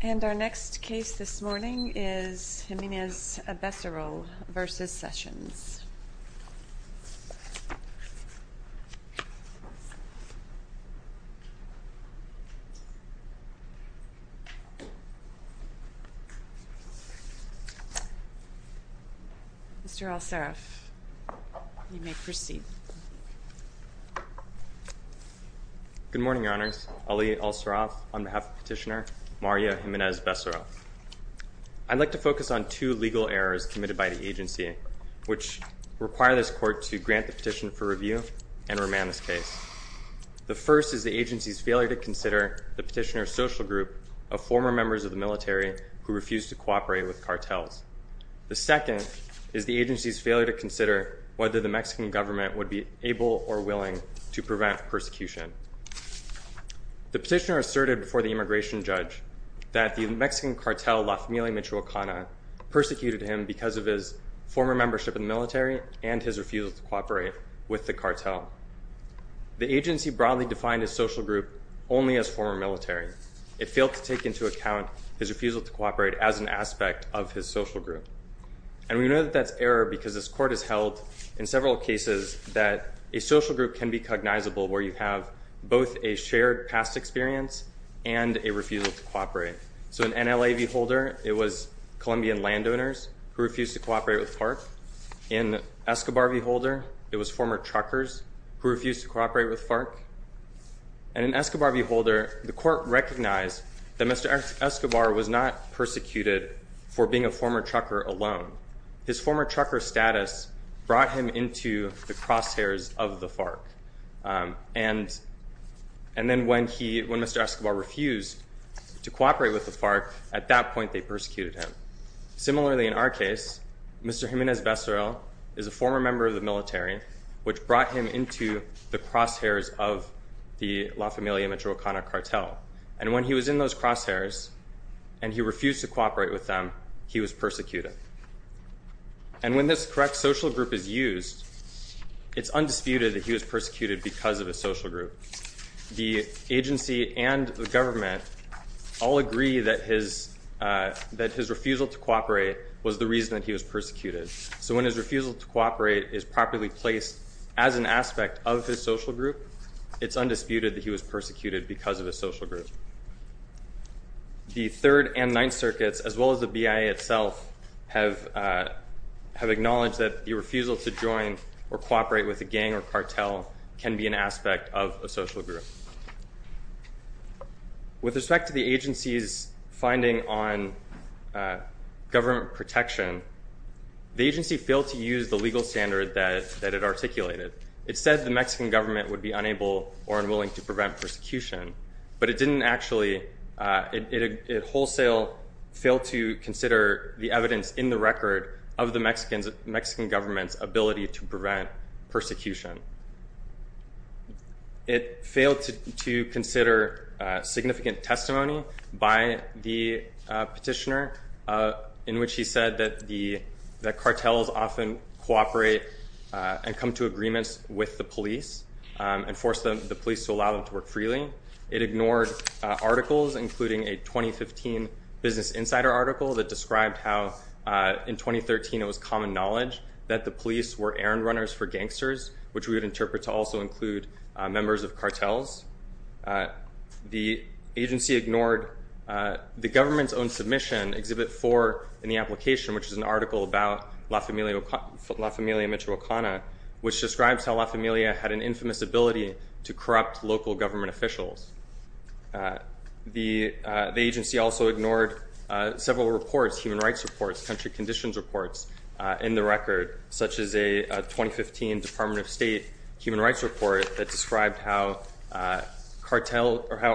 And our next case this morning is Jimenez-Becerril v. Sessions Mr. El-Saraf, you may proceed Good morning, Your Honors. Ali El-Saraf on behalf of Petitioner Mario Jimenez-Becerril I'd like to focus on two legal errors committed by the agency which require this court to grant the petition for review and remand this case The first is the agency's failure to consider the petitioner's social group of former members of the military who refused to cooperate with cartels The second is the agency's failure to consider whether the Mexican government would be able or willing to prevent persecution The petitioner asserted before the immigration judge that the Mexican cartel La Familia Michoacana persecuted him because of his former membership in the military and his refusal to cooperate with the cartel The agency broadly defined his social group only as former military. It failed to take into account his refusal to cooperate as an aspect of his social group And we know that that's error because this court has held in several cases that a social group can be cognizable where you have both a shared past experience and a refusal to cooperate So in NLA v. Holder, it was Colombian landowners who refused to cooperate with FARC In Escobar v. Holder, it was former truckers who refused to cooperate with FARC And in Escobar v. Holder, the court recognized that Mr. Escobar was not persecuted for being a former trucker alone His former trucker status brought him into the crosshairs of the FARC And then when Mr. Escobar refused to cooperate with the FARC, at that point they persecuted him Similarly, in our case, Mr. Jimenez Becerril is a former member of the military which brought him into the crosshairs of the La Familia Michoacana cartel And when he was in those crosshairs and he refused to cooperate with them, he was persecuted And when this correct social group is used, it's undisputed that he was persecuted because of his social group The agency and the government all agree that his refusal to cooperate was the reason that he was persecuted So when his refusal to cooperate is properly placed as an aspect of his social group, it's undisputed that he was persecuted because of his social group The Third and Ninth Circuits, as well as the BIA itself, have acknowledged that the refusal to join or cooperate with a gang or cartel can be an aspect of a social group With respect to the agency's finding on government protection, the agency failed to use the legal standard that it articulated It said the Mexican government would be unable or unwilling to prevent persecution, but it didn't actually It wholesale failed to consider the evidence in the record of the Mexican government's ability to prevent persecution It failed to consider significant testimony by the petitioner, in which he said that cartels often cooperate and come to agreements with the police And force the police to allow them to work freely It ignored articles, including a 2015 Business Insider article that described how in 2013 it was common knowledge that the police were errand runners for gangsters Which we would interpret to also include members of cartels The agency ignored the government's own submission, Exhibit 4 in the application, which is an article about La Familia Metro Ocana Which describes how La Familia had an infamous ability to corrupt local government officials The agency also ignored several reports, human rights reports, country conditions reports in the record Such as a 2015 Department of State human rights report that described how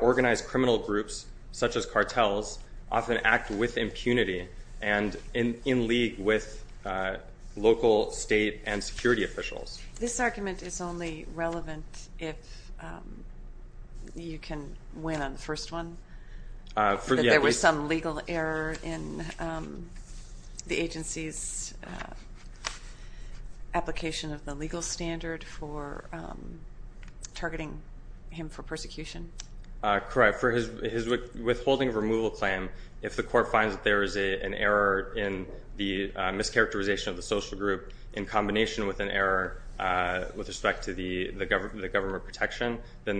organized criminal groups, such as cartels, often act with impunity And in league with local, state, and security officials This argument is only relevant if you can win on the first one? That there was some legal error in the agency's application of the legal standard for targeting him for persecution? Correct. For his withholding of removal claim, if the court finds that there is an error in the mischaracterization of the social group In combination with an error with respect to the government protection Then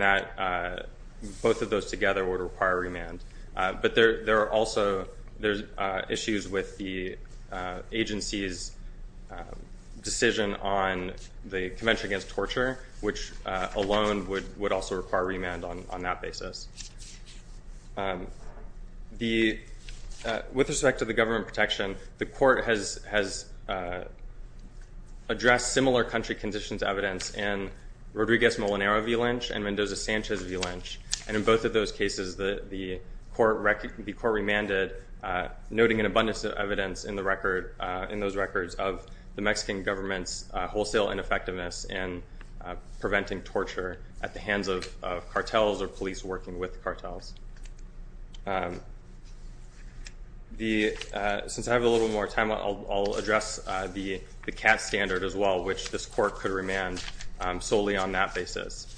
both of those together would require remand But there are also issues with the agency's decision on the Convention Against Torture Which alone would also require remand on that basis With respect to the government protection, the court has addressed similar country conditions evidence In Rodriguez-Molinero v. Lynch and Mendoza-Sanchez v. Lynch And in both of those cases, the court remanded Noting an abundance of evidence in those records of the Mexican government's wholesale ineffectiveness In preventing torture at the hands of cartels or police working with cartels Since I have a little more time, I'll address the CAT standard as well Which this court could remand solely on that basis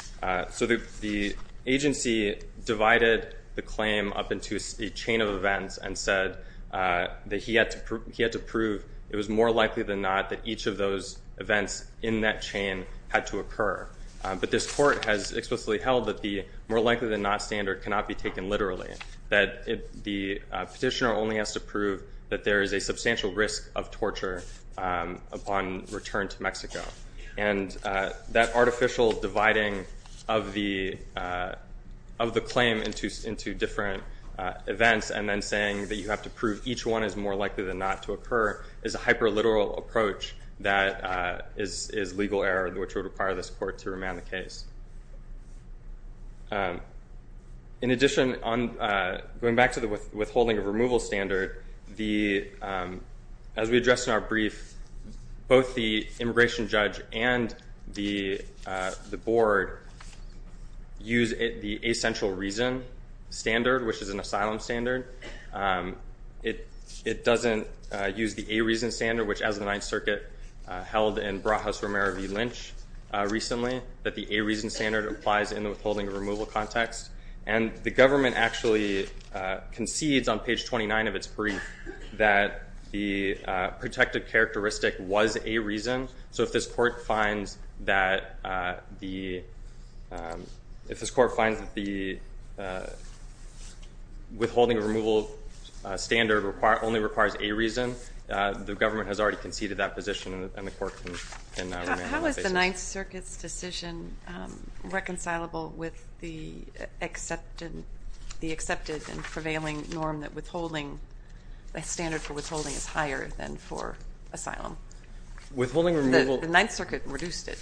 So the agency divided the claim up into a chain of events And said that he had to prove it was more likely than not that each of those events in that chain had to occur But this court has explicitly held that the more likely than not standard cannot be taken literally That the petitioner only has to prove that there is a substantial risk of torture upon return to Mexico And that artificial dividing of the claim into different events And then saying that you have to prove each one is more likely than not to occur Is a hyper-literal approach that is legal error, which would require this court to remand the case In addition, going back to the withholding of removal standard As we addressed in our brief, both the immigration judge and the board Use the A-Central Reason standard, which is an asylum standard It doesn't use the A-Reason standard, which as of the 9th Circuit held in Broadhouse-Romero v. Lynch Recently, that the A-Reason standard applies in the withholding of removal context And the government actually concedes on page 29 of its brief that the protected characteristic was A-Reason So if this court finds that the withholding of removal standard only requires A-Reason The government has already conceded that position and the court can remand the case So how is the 9th Circuit's decision reconcilable with the accepted and prevailing norm That a standard for withholding is higher than for asylum? The 9th Circuit reduced it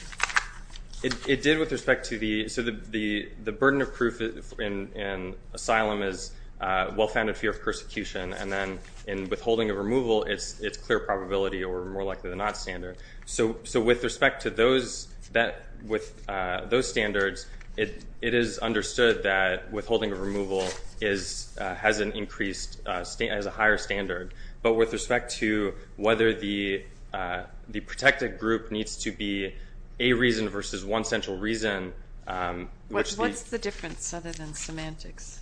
It did with respect to the burden of proof in asylum as well-founded fear of persecution And then in withholding of removal, it's clear probability or more likely than not standard So with respect to those standards, it is understood that withholding of removal has a higher standard But with respect to whether the protected group needs to be A-Reason versus 1-Central Reason What's the difference other than semantics?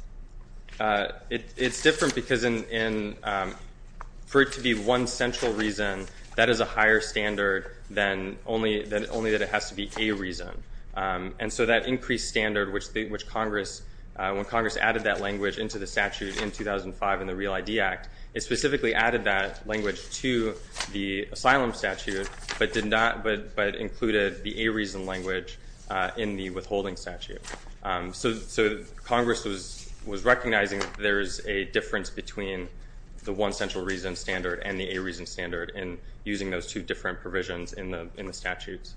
It's different because for it to be 1-Central Reason, that is a higher standard than only that it has to be A-Reason And so that increased standard which Congress, when Congress added that language into the statute in 2005 in the Real ID Act It specifically added that language to the asylum statute but included the A-Reason language in the withholding statute So Congress was recognizing that there is a difference between the 1-Central Reason standard and the A-Reason standard In using those two different provisions in the statutes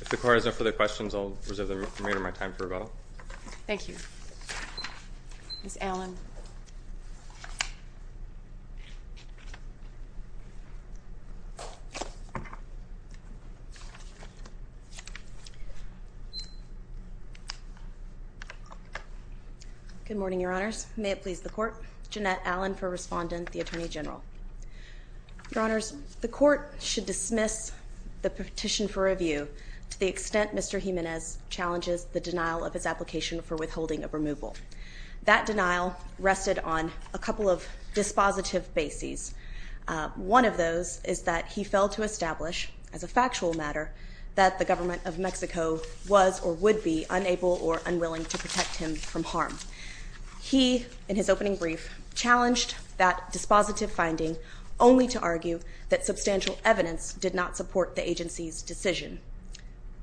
If the Court has no further questions, I'll reserve the remainder of my time for rebuttal Thank you Ms. Allen Good morning, Your Honors. May it please the Court. Jeannette Allen for Respondent, the Attorney General Your Honors, the Court should dismiss the petition for review to the extent Mr. Jimenez challenges the denial of his application for withholding of removal That denial rested on a couple of dispositive bases One of those is that he failed to establish, as a factual matter, that the government of Mexico was or would be unable or unwilling to protect him from harm He, in his opening brief, challenged that dispositive finding only to argue that substantial evidence did not support the agency's decision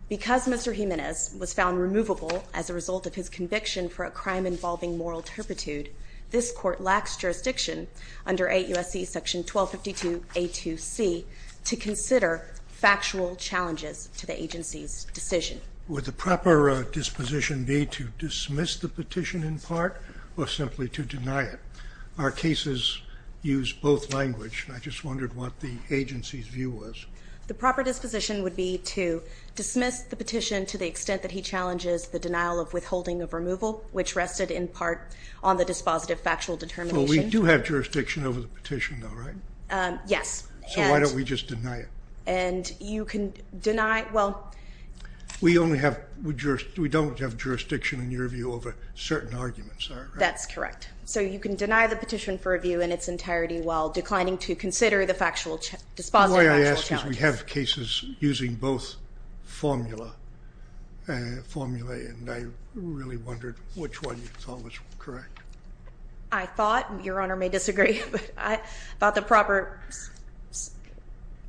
Because Mr. Jimenez was found removable as a result of his conviction for a crime involving moral turpitude This Court lacks jurisdiction under 8 U.S.C. § 1252a2c to consider factual challenges to the agency's decision Would the proper disposition be to dismiss the petition in part or simply to deny it? Our cases use both language and I just wondered what the agency's view was The proper disposition would be to dismiss the petition to the extent that he challenges the denial of withholding of removal Which rested in part on the dispositive factual determination But we do have jurisdiction over the petition though, right? Yes So why don't we just deny it? And you can deny, well We only have, we don't have jurisdiction in your view over certain arguments, right? That's correct So you can deny the petition for review in its entirety while declining to consider the dispositive factual challenge Because we have cases using both formula and I really wondered which one you thought was correct I thought, your honor may disagree, but I thought the proper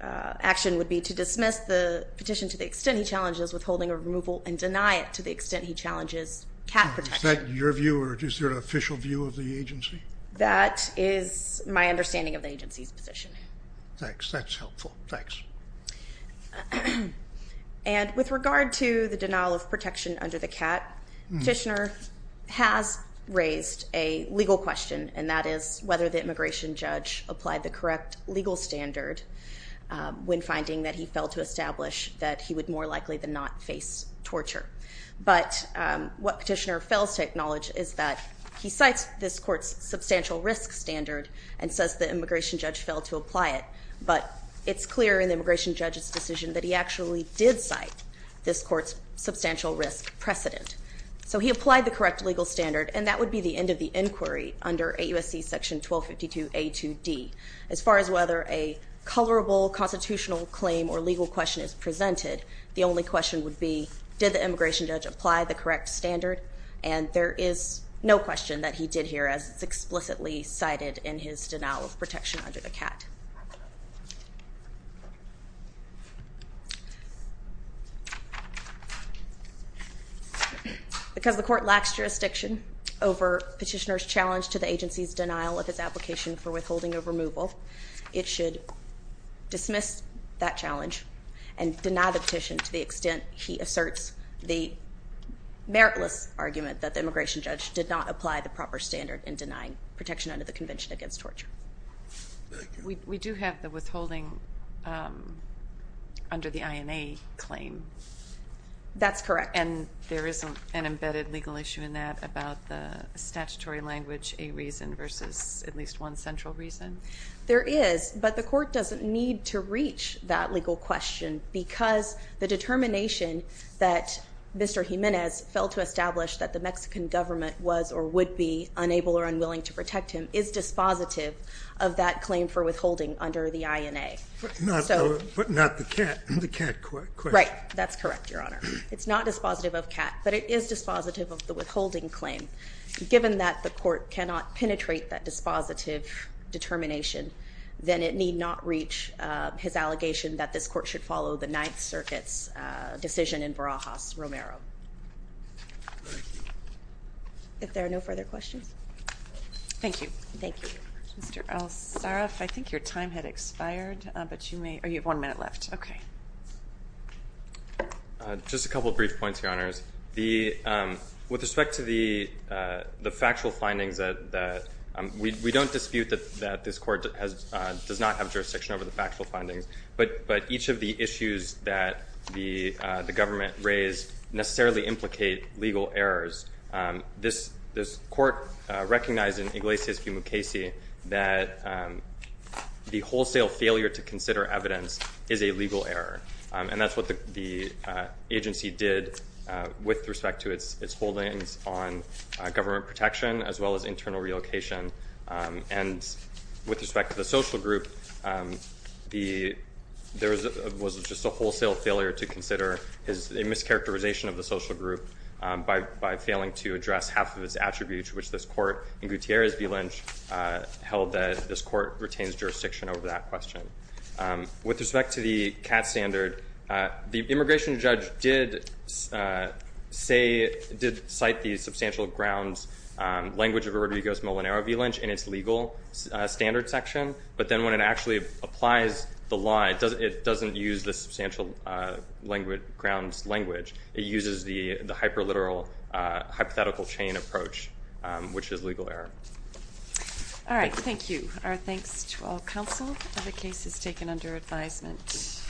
action would be to dismiss the petition to the extent he challenges withholding of removal And deny it to the extent he challenges cap protection Is that your view or is there an official view of the agency? That is my understanding of the agency's position Thanks, that's helpful, thanks And with regard to the denial of protection under the CAT Petitioner has raised a legal question and that is whether the immigration judge applied the correct legal standard When finding that he failed to establish that he would more likely than not face torture But what petitioner fails to acknowledge is that he cites this court's substantial risk standard And says the immigration judge failed to apply it But it's clear in the immigration judge's decision that he actually did cite this court's substantial risk precedent So he applied the correct legal standard and that would be the end of the inquiry under AUSC section 1252 A2D As far as whether a colorable constitutional claim or legal question is presented The only question would be did the immigration judge apply the correct standard And there is no question that he did here as it's explicitly cited in his denial of protection under the CAT Because the court lacks jurisdiction over petitioner's challenge to the agency's denial of its application for withholding of removal It should dismiss that challenge and deny the petition to the extent he asserts The meritless argument that the immigration judge did not apply the proper standard in denying protection under the convention against torture We do have the withholding under the INA claim That's correct And there isn't an embedded legal issue in that about the statutory language a reason versus at least one central reason There is but the court doesn't need to reach that legal question Because the determination that Mr. Jimenez fell to establish that the Mexican government was or would be unable or unwilling to protect him Is dispositive of that claim for withholding under the INA But not the CAT question Right, that's correct your honor It's not dispositive of CAT but it is dispositive of the withholding claim Given that the court cannot penetrate that dispositive determination Then it need not reach his allegation that this court should follow the Ninth Circuit's decision in Barajas Romero If there are no further questions Thank you Thank you Mr. Al-Saraf I think your time had expired but you may or you have one minute left Okay Just a couple of brief points your honors With respect to the factual findings that we don't dispute that this court does not have jurisdiction over the factual findings But each of the issues that the government raised necessarily implicate legal errors This court recognized in Iglesias v. Mukasey that the wholesale failure to consider evidence is a legal error And that's what the agency did with respect to its holdings on government protection as well as internal relocation And with respect to the social group There was just a wholesale failure to consider a mischaracterization of the social group By failing to address half of its attributes which this court in Gutierrez v. Lynch Held that this court retains jurisdiction over that question With respect to the CAT standard The immigration judge did cite the substantial grounds language of Rodriguez-Molinero v. Lynch in its legal standard section But then when it actually applies the law it doesn't use the substantial grounds language It uses the hyper-literal hypothetical chain approach which is legal error Alright thank you Our thanks to all counsel of the cases taken under advisement